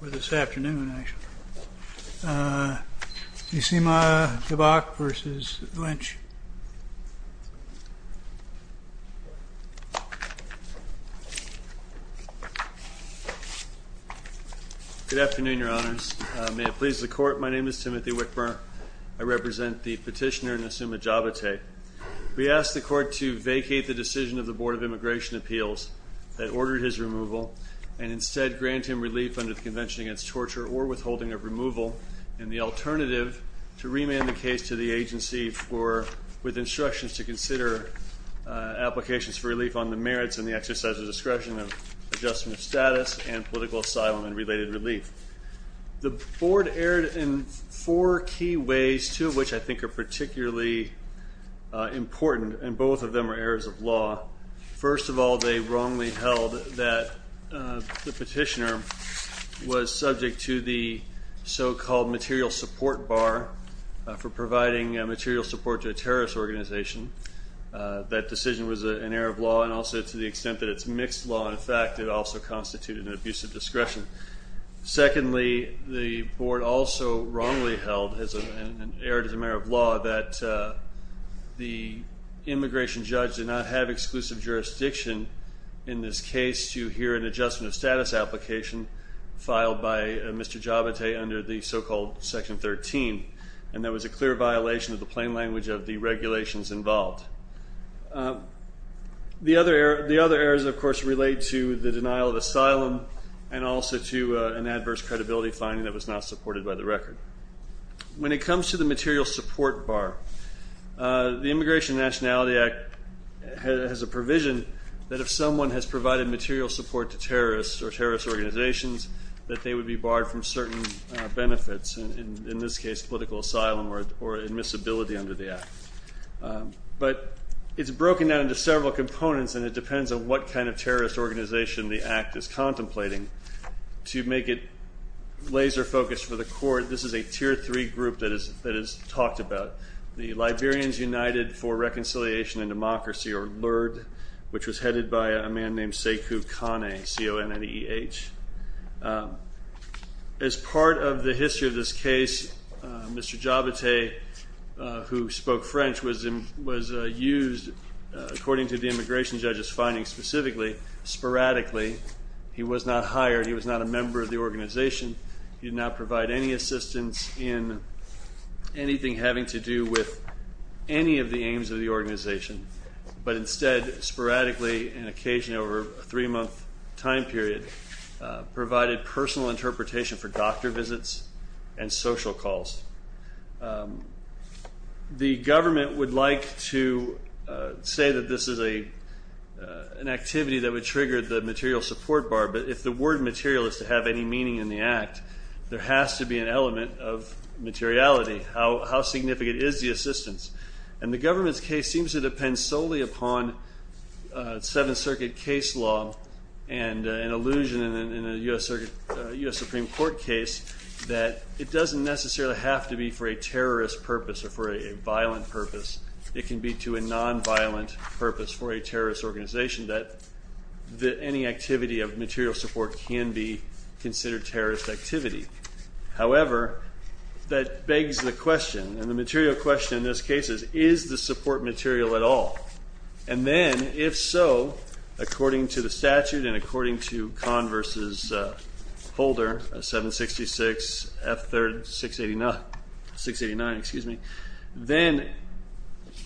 Good afternoon, Your Honors. May it please the Court, my name is Timothy Wickburn. I represent the petitioner Nassuma Jabateh. We ask the Court to vacate the decision of the Board of Immigration Appeals that ordered his removal, and instead grant him relief under the Convention Against Torture or Withholding of Removal, and the alternative to remand the case to the agency for, with instructions to consider applications for relief on the merits and the exercise of discretion of adjustment of status and political asylum and related relief. The Board erred in four key ways, two of which I think are particularly important, and both of them are errors of law. First of all, they wrongly held that the petitioner was subject to the so-called material support bar for providing material support to a terrorist organization. That decision was an error of law, and also to the extent that it's mixed law, in fact, it also constituted an abuse of discretion. Secondly, the Board also wrongly held, and erred as a matter of law, that the immigration judge did not have exclusive jurisdiction in this case to hear an adjustment of status application filed by Mr. Jabateh under the so-called Section 13, and there was a clear violation of the plain language of the regulations involved. The other errors, of course, relate to the denial of asylum and also to an adverse credibility finding that was not supported by the record. When it comes to the material support bar, the Immigration and Nationality Act has a provision that if someone has provided material support to terrorists or terrorist organizations, that they would be barred from certain benefits, in this case political asylum or admissibility under the Act. But it's broken down into several components, and it depends on what kind of to make it laser-focused for the Court. This is a Tier 3 group that is talked about, the Liberians United for Reconciliation and Democracy, or LIRD, which was headed by a man named Sekou Kane, C-O-N-N-E-E-H. As part of the history of this case, Mr. Jabateh, who spoke French, was used, according to the immigration judge's findings specifically, sporadically. He was not hired. He was not a member of the organization. He did not provide any assistance in anything having to do with any of the aims of the organization, but instead, sporadically, and occasionally over a three-month time period, provided personal interpretation for doctor visits and social calls. The government would like to say that this is an activity that would trigger the material support bar, but if the word material is to have any meaning in the Act, there has to be an element of materiality. How significant is the assistance? And the government's case seems to depend solely upon Seventh Circuit case law and an illusion in a U.S. Supreme Court case that it doesn't necessarily have to be for a terrorist purpose or for a material purpose. However, that begs the question, and the material question in this case is, is the support material at all? And then, if so, according to the statute and according to Converse's folder, 766 F3-689, then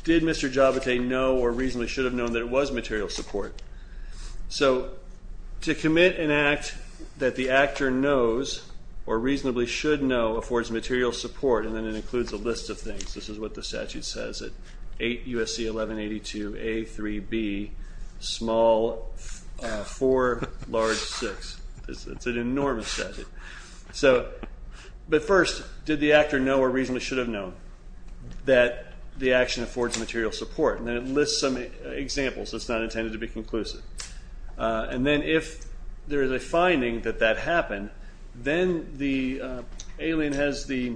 did Mr. Jabateh know or reasonably should have known that it was material support? So to commit an act that the actor knows or reasonably should know affords material support, and then it includes a list of things. This is what the statute says, 8 U.S.C. 1182 A.3.B., small 4, large 6. It's an enormous statute. But first, did the actor know or reasonably should have known that the action affords material support? And it lists some examples. It's not intended to be conclusive. And then, if there is a finding that that happened, then the alien has the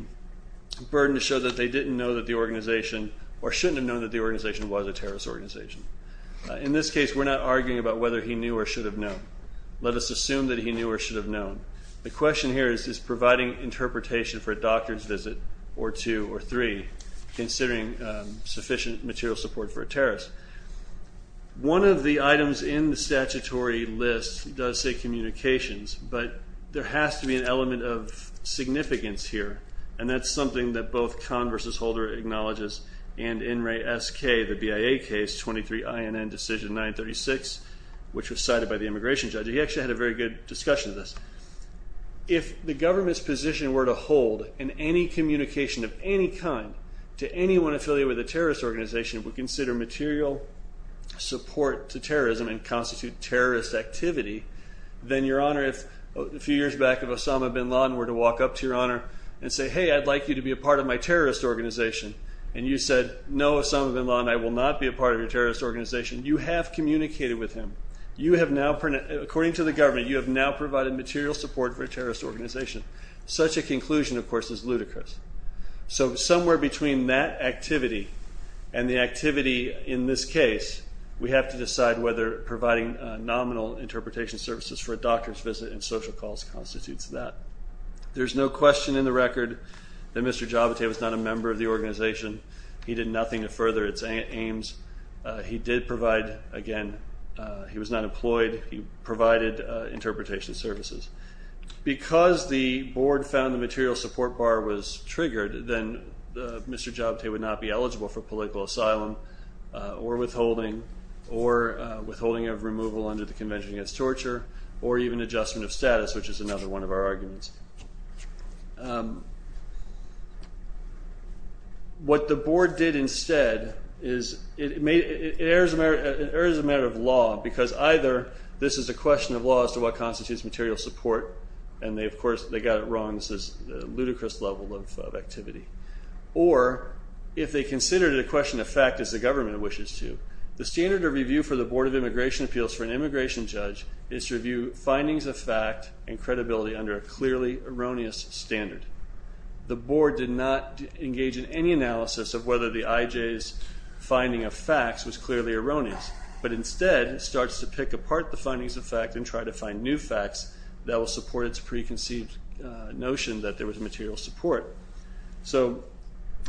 burden to show that they didn't know that the organization or shouldn't have known that the organization was a terrorist organization. In this case, we're not arguing about whether he knew or should have known. Let us assume that he knew or should have known. The question here is, is providing interpretation for a doctor's visit or two or three, considering sufficient material support for a terrorist. One of the items in the statutory list does say communications, but there has to be an element of significance here. And that's something that both Kahn v. Holder acknowledges and N. Ray S. K., the BIA case, 23 INN decision 936, which was cited by the immigration judge. He actually had a very good discussion of this. If the government's position were to hold in any communication of any kind to anyone affiliated with a terrorist organization, if we consider material support to terrorism and constitute terrorist activity, then, Your Honor, if a few years back if Osama bin Laden were to walk up to Your Honor and say, hey, I'd like you to be a part of my terrorist organization. And you said, no, Osama bin Laden, I will not be a part of your terrorist organization. You have communicated with him. You have now, according to the government, you have now provided material support for a terrorist organization. Such a conclusion, of course, is ludicrous. So somewhere between that activity and the activity in this case, we have to decide whether providing nominal interpretation services for a doctor's visit and social calls constitutes that. There's no question in the record that Mr. Javate was not a member of the organization. He did nothing to further its aims. He did provide, again, he was not employed. He provided interpretation services. Because the board found the material support bar was triggered, then Mr. Javate would not be eligible for political asylum or withholding or withholding of removal under the Convention Against Torture or even adjustment of status, which is another one of our arguments. What the board did instead is it made, it errs a matter of law because either this is a question of law as to what constitutes material support, and they, of course, they got it wrong. This is a ludicrous level of activity. Or if they considered it a question of fact as the government wishes to. The standard of review for the Board of Immigration Appeals for an immigration judge is to review findings of fact and credibility under a clearly erroneous standard. The board did not engage in any analysis of whether the IJ's finding of facts was clearly erroneous, but instead starts to pick apart the findings of fact and try to find new facts that will support its preconceived notion that there was material support. So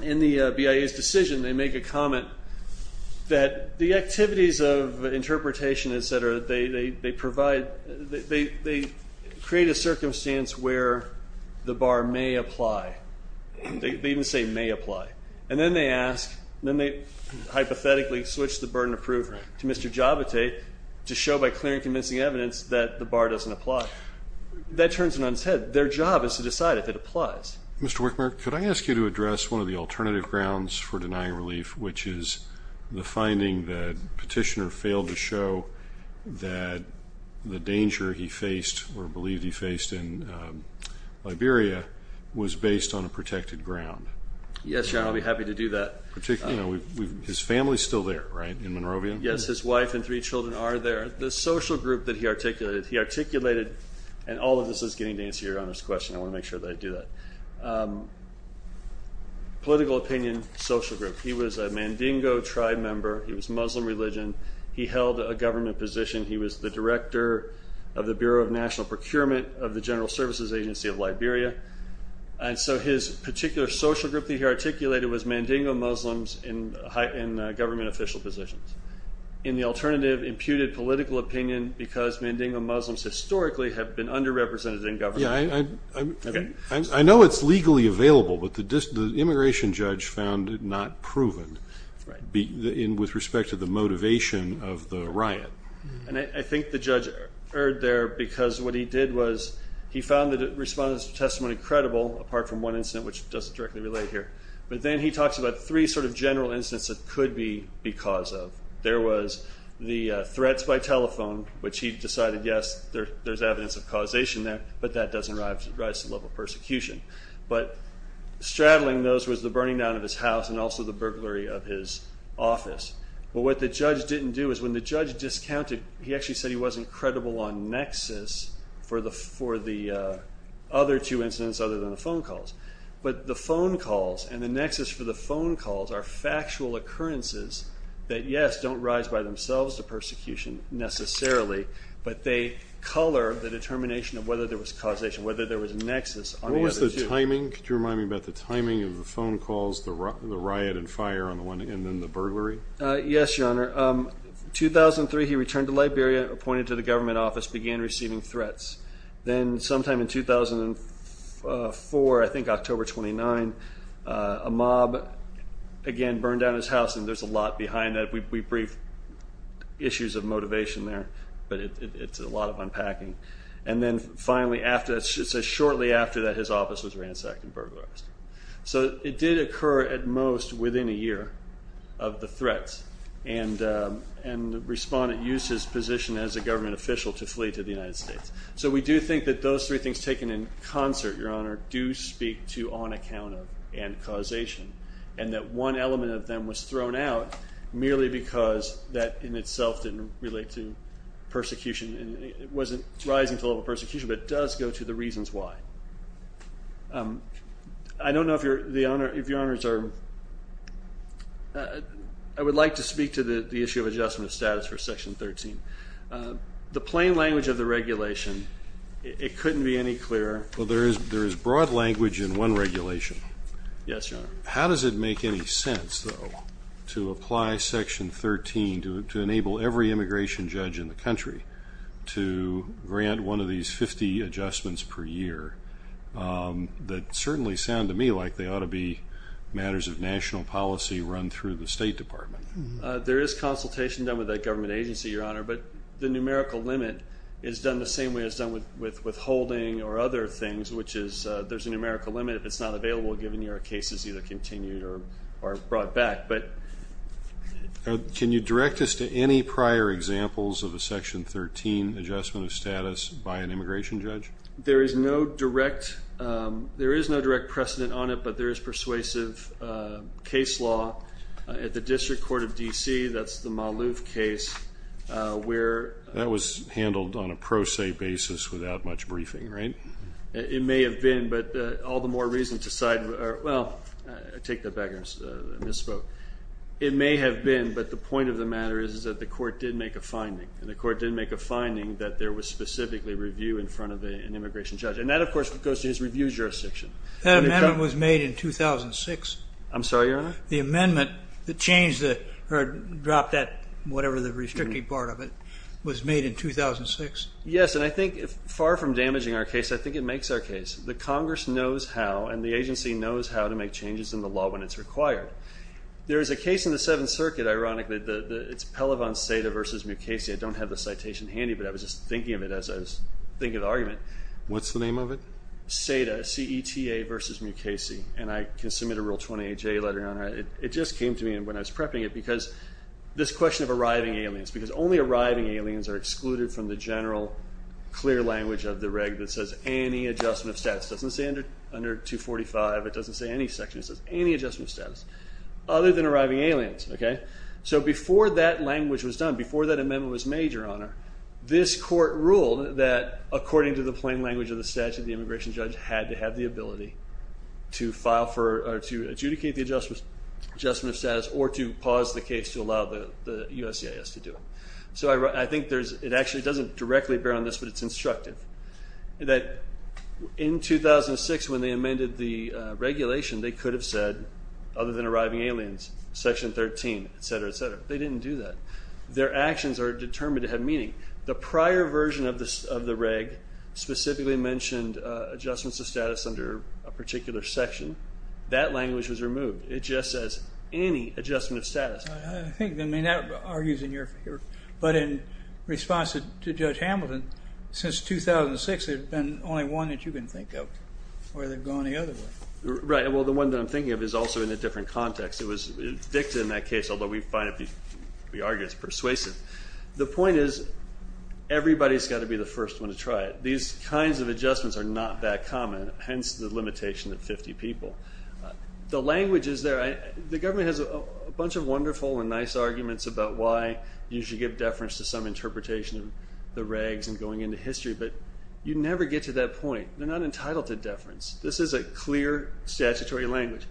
in the BIA's decision, they make a comment that the activities of interpretation, etc., they provide, they create a circumstance where the bar may apply. They even say may apply. And then they ask, then they hypothetically switch the burden of proof to Mr. Javate to show by clear and convincing evidence that the bar doesn't apply. That turns one's head. Their job is to decide if it applies. Mr. Wickmer, could I ask you to address one of the alternative grounds for denying relief, which is the finding that Petitioner failed to show that the danger he faced or believed he faced in Liberia was based on a protected ground? Yes, Your Honor, I'll be happy to do that. His family's still there, right, in Monrovia? Yes, his wife and three children are there. The social group that he articulated, he articulated, and all of this is getting to Your Honor's question. I want to make sure that I do that. Political opinion, social group. He was a Mandingo tribe member. He was Muslim religion. He held a government position. He was the director of the Bureau of National Procurement of the General Services Agency of Liberia. And so his particular social group that he articulated was Mandingo Muslims in government official positions. And the alternative imputed political opinion because Mandingo Muslims historically have been underrepresented in government. I know it's legally available, but the immigration judge found it not proven with respect to the motivation of the riot. And I think the judge erred there because what he did was he found the response to testimony credible, apart from one incident, which doesn't directly relate here. But then he talks about three sort of general incidents that could be because of. There was the threats by telephone, which he decided, yes, there's evidence of causation there, but that doesn't rise to the level of persecution. But straddling those was the burning down of his house and also the burglary of his office. But what the judge didn't do is when the judge discounted, he actually said he wasn't credible on nexus for the other two incidents other than the phone calls. But the phone calls and the nexus for the phone calls are factual occurrences that, yes, don't rise by themselves to persecution necessarily, but they color the determination of whether there was causation, whether there was a nexus on the other two. What was the timing? Could you remind me about the timing of the phone calls, the riot and fire, and then the burglary? Yes, Your Honor. 2003, he returned to Liberia, appointed to the government office, began receiving threats. Then sometime in 2004, I think October 29, a mob, again, burned down his house. And there's a lot behind that. We briefed issues of motivation there, but it's a lot of unpacking. And then finally, shortly after that, his office was ransacked and burglarized. So it did occur at most within a year of the threats, and the respondent used his position as a government official to flee to the United States. So we do think that those three things taken in concert, Your Honor, do speak to on account of and causation, and that one element of them was thrown out merely because that in itself didn't relate to persecution, and it wasn't rising to the level of persecution, but it does go to the reasons why. I don't know if Your Honors are... I would like to speak to the issue of adjustment of status for Section 13. The plain language of the regulation, it couldn't be any clearer. Well, there is broad language in one regulation. Yes, Your Honor. How does it make any sense, though, to apply Section 13 to enable every immigration judge in the country to grant one of these 50 adjustments per year that certainly sound to me like they ought to be matters of national policy run through the State Department? There is consultation done with a government agency, Your Honor, but the numerical limit is done the same way it's done with withholding or other things, which is there's a numerical limit if it's not available given your case is either continued or brought back, but... Can you direct us to any prior examples of a Section 13 adjustment of status by an immigration judge? There is no direct precedent on it, but there is persuasive case law at the District Court of D.C. That's the Maloof case where... That was handled on a pro se basis without much briefing, right? It may have been, but all the more reason to side... Well, I take that back, I misspoke. It may have been, but the point of the matter is that the court did make a finding, and the court did make a finding that there was specifically review in front of an immigration judge, and that, of course, goes to his review jurisdiction. That amendment was made in 2006. I'm sorry, Your Honor? The amendment, the change or drop that, whatever the restricting part of it, was made in 2006? Yes, and I think far from damaging our case, I think it makes our case. The Congress knows how, and the agency knows how to make changes in the law when it's required. There is a case in the Seventh Circuit, ironically, it's Pellivan-Seda versus Mukasey. I don't have the citation handy, but I was just thinking of it as I was thinking of the argument. What's the name of it? Seda, C-E-T-A versus Mukasey. I can submit a Rule 28J letter, Your Honor. It just came to me when I was prepping it because this question of arriving aliens, because only arriving aliens are excluded from the general clear language of the reg that says any adjustment of status. It doesn't say under 245. It doesn't say any section. It says any adjustment of status other than arriving aliens. Before that language was done, before that amendment was made, Your Honor, this court ruled that according to the plain language of the statute, the immigration judge had to have the ability to file for or to adjudicate the adjustment of status or to pause the case to allow the USCIS to do it. I think it actually doesn't directly bear on this, but it's instructive. In 2006, when they amended the regulation, they could have said other than arriving aliens, section 13, et cetera, et cetera. They didn't do that. Their actions are determined to have meaning. The prior version of the reg specifically mentioned adjustments of status under a particular section. That language was removed. It just says any adjustment of status. I think that argues in your favor. But in response to Judge Hamilton, since 2006, there's been only one that you can think of where they've gone the other way. Right. Well, the one that I'm thinking of is also in a different context. It was evicted in that case, although we find it persuasive. The point is everybody's got to be the first one to try it. These kinds of adjustments are not that common, hence the limitation of 50 people. The language is there. The government has a bunch of wonderful and nice arguments about why you should give deference to some interpretation of the regs and going into history, but you never get to that point. They're not entitled to deference. This is a clear statutory language.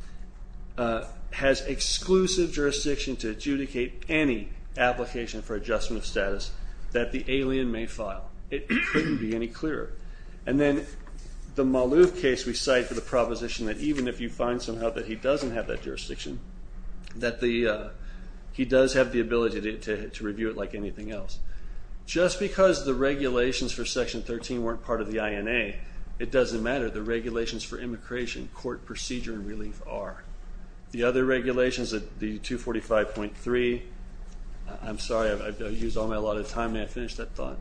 It has exclusive jurisdiction to adjudicate any application for adjustment of status that the alien may file. It couldn't be any clearer. And then the Malouf case we cite for the proposition that even if you find somehow that he doesn't have that jurisdiction, that he does have the ability to review it like anything else. Just because the regulations for Section 13 weren't part of the INA, it doesn't matter. The regulations for immigration court procedure and relief are. The other regulations, the 245.3, I'm sorry, I've used all my allotted time. May I finish that thought?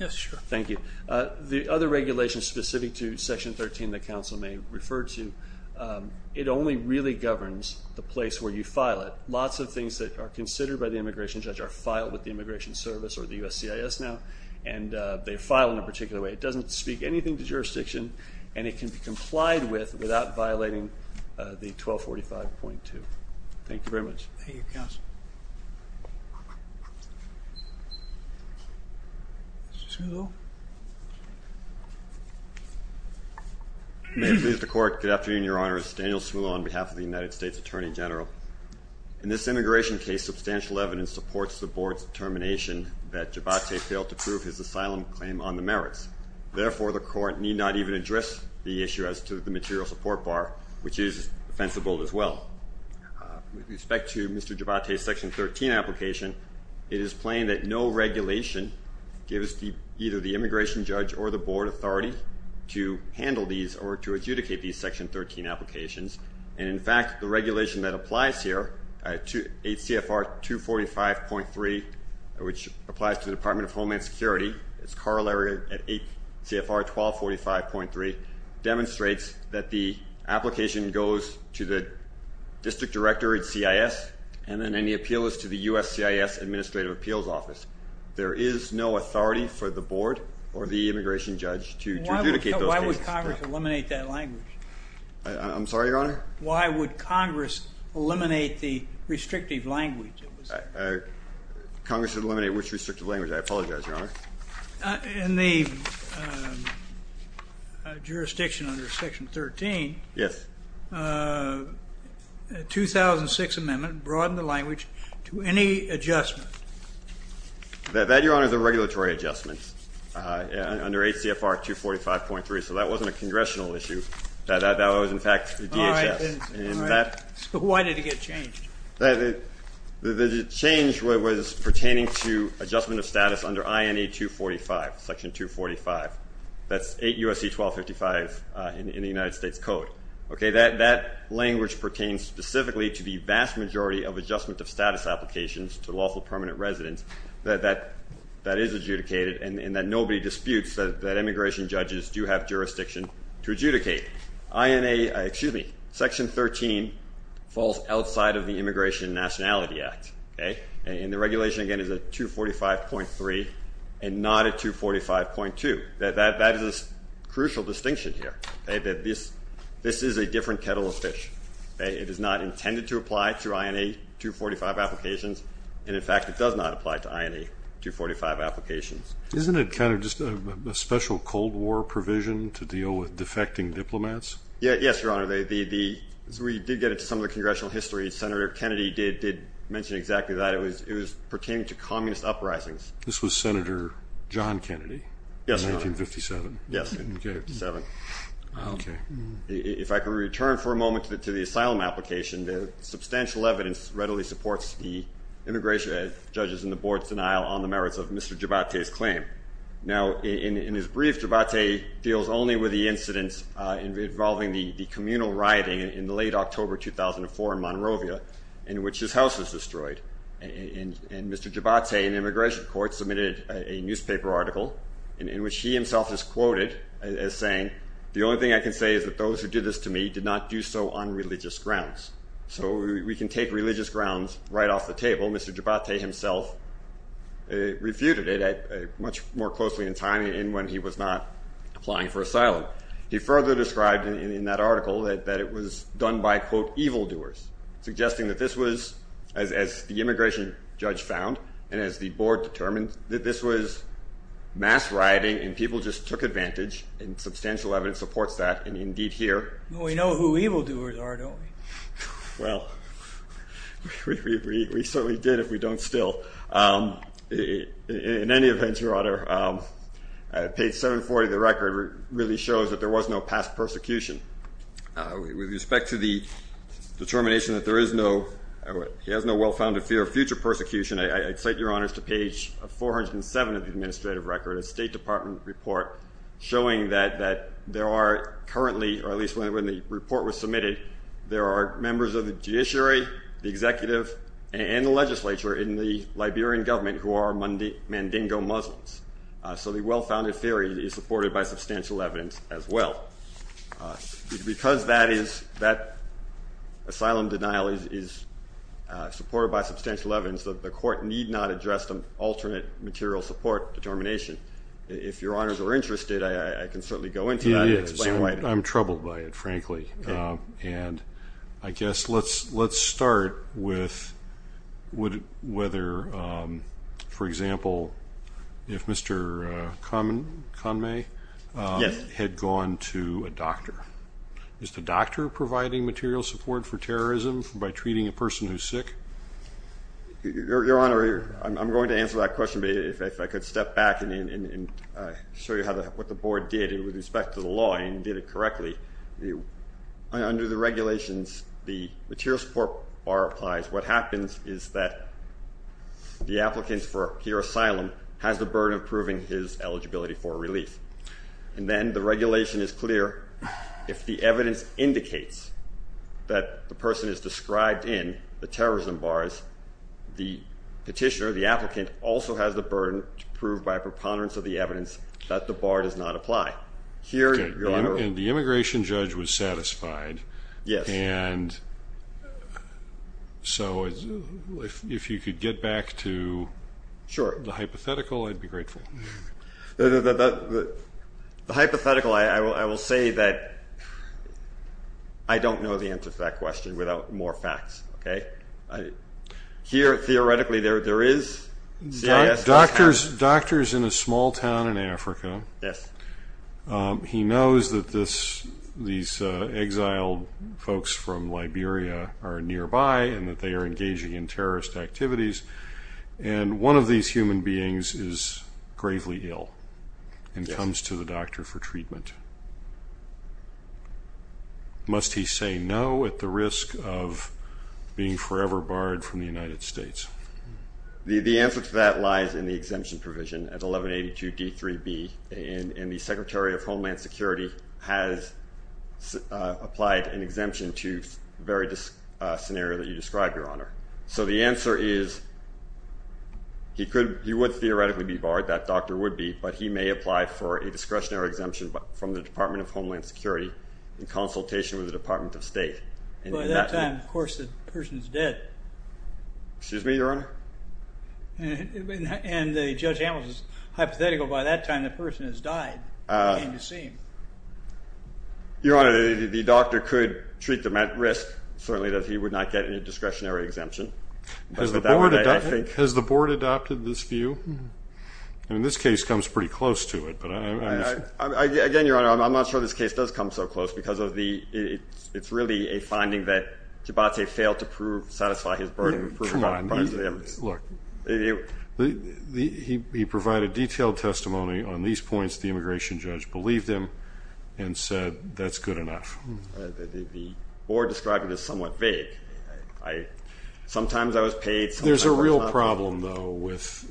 Yes, sure. Thank you. The other regulations specific to Section 13 that counsel may refer to, it only really governs the place where you file it. Lots of things that are considered by the immigration judge are filed with the Immigration Service or the USCIS now, and they file in a particular way. It doesn't speak anything to jurisdiction, and it can be complied with without violating the 1245.2. Thank you very much. Thank you, counsel. May it please the Court. Good afternoon, Your Honors. Daniel Smuller on behalf of the United States Attorney General. In this immigration case, substantial evidence supports the Board's determination that Gervais failed to prove his asylum claim on the merits. Therefore, the Court need not even address the issue as to the material support bar, which is defensible as well. With respect to Mr. Gervais' Section 13 application, it is plain that no regulation gives either the immigration judge or the Board authority to handle these or to adjudicate these Section 13 applications. And in fact, the regulation that applies here, 8 CFR 245.3, which applies to the Department of Homeland Security, it's corollary at 8 CFR 1245.3, demonstrates that the application goes to the district director at CIS and then any appeal is to the USCIS Administrative Appeals Office. There is no authority for the Board or the immigration judge to adjudicate those cases. Why would Congress eliminate that language? I'm sorry, Your Honor? Why would Congress eliminate the restrictive language? Congress would eliminate which restrictive language? I apologize, Your Honor. In the jurisdiction under Section 13. Yes. 2006 amendment broadened the language to any adjustment. That, Your Honor, is a regulatory adjustment under 8 CFR 245.3. So that wasn't a congressional issue. That was, in fact, DHS. And that. Why did it get changed? That the change was pertaining to adjustment of status under INA 245, Section 245. That's 8 USC 1255 in the United States Code. Okay, that language pertains specifically to the vast majority of adjustment of status applications to lawful permanent residents that is adjudicated and that nobody disputes that immigration judges do have jurisdiction to adjudicate. INA, excuse me, Section 13 falls outside of the Immigration and Nationality Act. And the regulation, again, is a 245.3 and not a 245.2. That is a crucial distinction here. This is a different kettle of fish. It is not intended to apply to INA 245 applications. And, in fact, it does not apply to INA 245 applications. Isn't it kind of just a special Cold War provision to deal with defecting diplomats? Yes, Your Honor. We did get into some of the congressional history. Senator Kennedy did mention exactly that. It was pertaining to communist uprisings. This was Senator John Kennedy in 1957. Yes, in 1957. If I could return for a moment to the asylum application, the substantial evidence readily supports the immigration judges and the board's denial on the merits of Mr. Jibhate's claim. Now, in his brief, Jibhate deals only with the incidents involving the communal rioting in the late October 2004 in Monrovia in which his house was destroyed. And Mr. Jibhate, in the immigration court, submitted a newspaper article in which he himself is quoted as saying, the only thing I can say is that those who did this to me did not do so on religious grounds. So we can take religious grounds right off the table. Mr. Jibhate himself refuted it much more closely in time in when he was not applying for asylum. He further described in that article that it was done by, quote, evildoers, suggesting that this was, as the immigration judge found and as the board determined, that this was mass rioting and people just took advantage. And substantial evidence supports that. And indeed, here. We know who evildoers are, don't we? Well, we certainly did if we don't still. In any event, Your Honor, page 740 of the record really shows that there was no past persecution. With respect to the determination that there is no, he has no well-founded fear of future persecution, I cite Your Honors to page 407 of the administrative record, a State Department report showing that there are currently, or at least when the report was submitted, there are members of the judiciary, the executive, and the legislature in the Liberian government who are Mandingo Muslims. So the well-founded theory is supported by substantial evidence as well. Because that asylum denial is supported by substantial evidence, the court need not address the alternate material support determination. If Your Honors are interested, I can certainly go into that and explain why. I'm troubled by it, frankly. And I guess let's start with whether, for example, if Mr. Conway had gone to a doctor, is the doctor providing material support for terrorism by treating a person who's sick? Your Honor, I'm going to answer that question, but if I could step back and show you what the Board did with respect to the law, and you did it correctly. Under the regulations, the material support bar applies. What happens is that the applicant for here asylum has the burden of proving his eligibility for relief. And then the regulation is clear. If the evidence indicates that the person is described in the terrorism bars, the petitioner, the applicant, also has the burden to prove by preponderance of the evidence that the law does not apply. Here, Your Honor... And the immigration judge was satisfied. Yes. And so if you could get back to the hypothetical, I'd be grateful. The hypothetical, I will say that I don't know the answer to that question without more facts, okay? Here, theoretically, there is... Doctors in a small town in Africa... Yes. He knows that these exiled folks from Liberia are nearby and that they are engaging in terrorist activities. And one of these human beings is gravely ill and comes to the doctor for treatment. Must he say no at the risk of being forever barred from the United States? The answer to that lies in the exemption provision at 1182 D3B, and the Secretary of Homeland Security has applied an exemption to the very scenario that you described, Your Honor. So the answer is he would theoretically be barred, that doctor would be, but he may apply for a discretionary exemption from the Department of Homeland Security in consultation with the Department of State. By that time, of course, the person is dead. Excuse me, Your Honor? And Judge Amos' hypothetical, by that time, the person has died, it can't be seen. Your Honor, the doctor could treat them at risk, certainly that he would not get a discretionary exemption. Has the board adopted this view? I mean, this case comes pretty close to it, but... Again, Your Honor, I'm not sure this case does come so close because it's really a burden. He provided detailed testimony on these points. The immigration judge believed him and said that's good enough. The board described it as somewhat vague. Sometimes I was paid, sometimes I was not. There's a real problem, though, with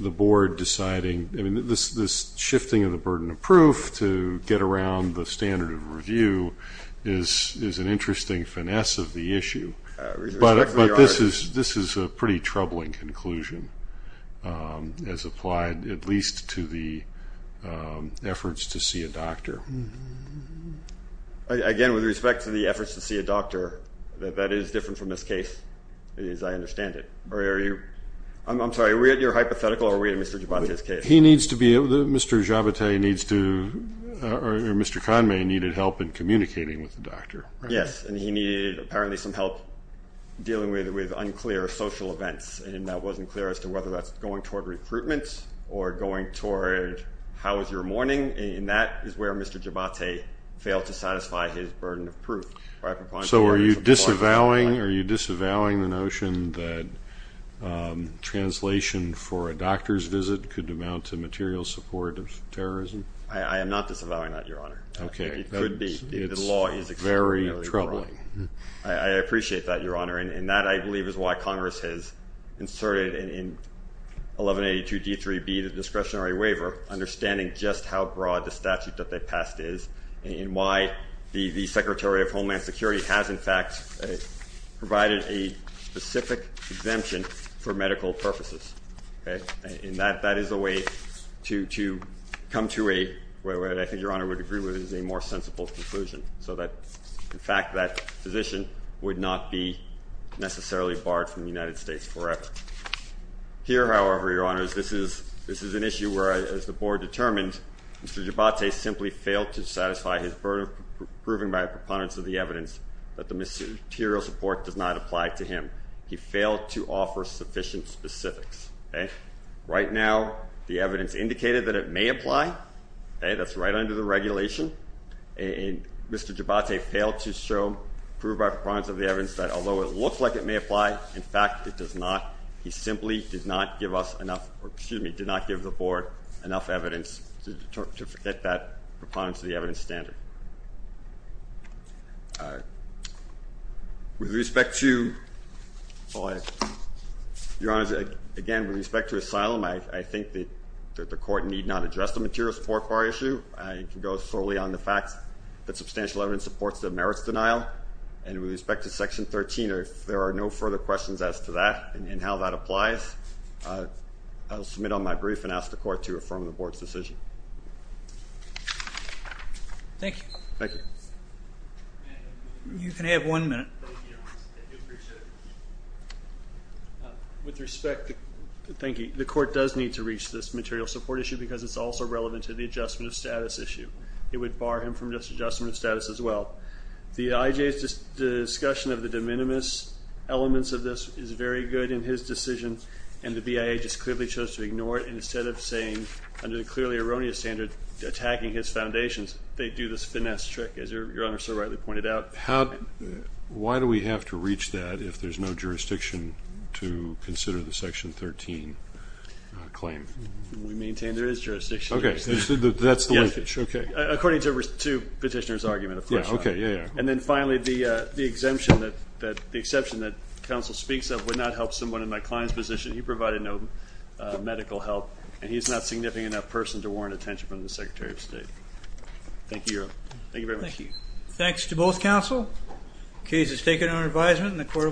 the board deciding, I mean, this shifting of the burden of proof to get around the standard of review is an interesting finesse of the issue. But this is a pretty troubling conclusion, as applied at least to the efforts to see a doctor. Again, with respect to the efforts to see a doctor, that is different from this case, as I understand it. I'm sorry, are we at your hypothetical or are we at Mr. Javate's case? He needs to be able to... Mr. Javate needs to... Mr. Conmay needed help in communicating with the doctor. Yes, and he needed apparently some help dealing with unclear social events, and that wasn't clear as to whether that's going toward recruitment or going toward how is your morning, and that is where Mr. Javate failed to satisfy his burden of proof. So are you disavowing the notion that translation for a doctor's visit could amount to material support of terrorism? I am not disavowing that, Your Honor. Okay. It could be. The law is extremely... It's very troubling. I appreciate that, Your Honor, and that I believe is why Congress has inserted in 1182 D3B, the discretionary waiver, understanding just how broad the statute that they passed is and why the Secretary of Homeland Security has in fact provided a specific exemption for medical purposes. And that is a way to come to a, what I think Your Honor would agree with, is a more so that in fact that physician would not be necessarily barred from the United States forever. Here, however, Your Honor, this is an issue where as the board determined, Mr. Javate simply failed to satisfy his burden of proving by a preponderance of the evidence that the material support does not apply to him. He failed to offer sufficient specifics. Right now, the evidence indicated that it may apply. That's right under the regulation. And Mr. Javate failed to show, prove by preponderance of the evidence that although it looks like it may apply, in fact it does not. He simply did not give us enough, or excuse me, did not give the board enough evidence to get that preponderance of the evidence standard. With respect to, Your Honor, again, with respect to asylum, I think that the court need not address the material support bar issue. I can go solely on the fact that substantial evidence supports the merits denial. And with respect to section 13, if there are no further questions as to that and how that applies, I will submit on my brief and ask the court to affirm the board's decision. Thank you. Thank you. You can have one minute. With respect, thank you. The court does need to reach this material support issue because it's also relevant to the adjustment of status issue. It would bar him from just adjustment of status as well. The IJA's discussion of the de minimis elements of this is very good in his decision, and the BIA just clearly chose to ignore it instead of saying, under the clearly erroneous standard, attacking his foundations. They do this finesse trick, as Your Honor so rightly pointed out. Why do we have to reach that if there's no jurisdiction to consider the section 13 claim? We maintain there is jurisdiction. That's the linkage, okay. According to petitioner's argument, of course. Yeah, okay, yeah, yeah. And then finally, the exception that counsel speaks of would not help someone in my client's position. He provided no medical help, and he's not a significant enough person to warrant attention from the Secretary of State. Thank you, Your Honor. Thank you very much. Thanks to both counsel. The case is taken under advisement in the court of...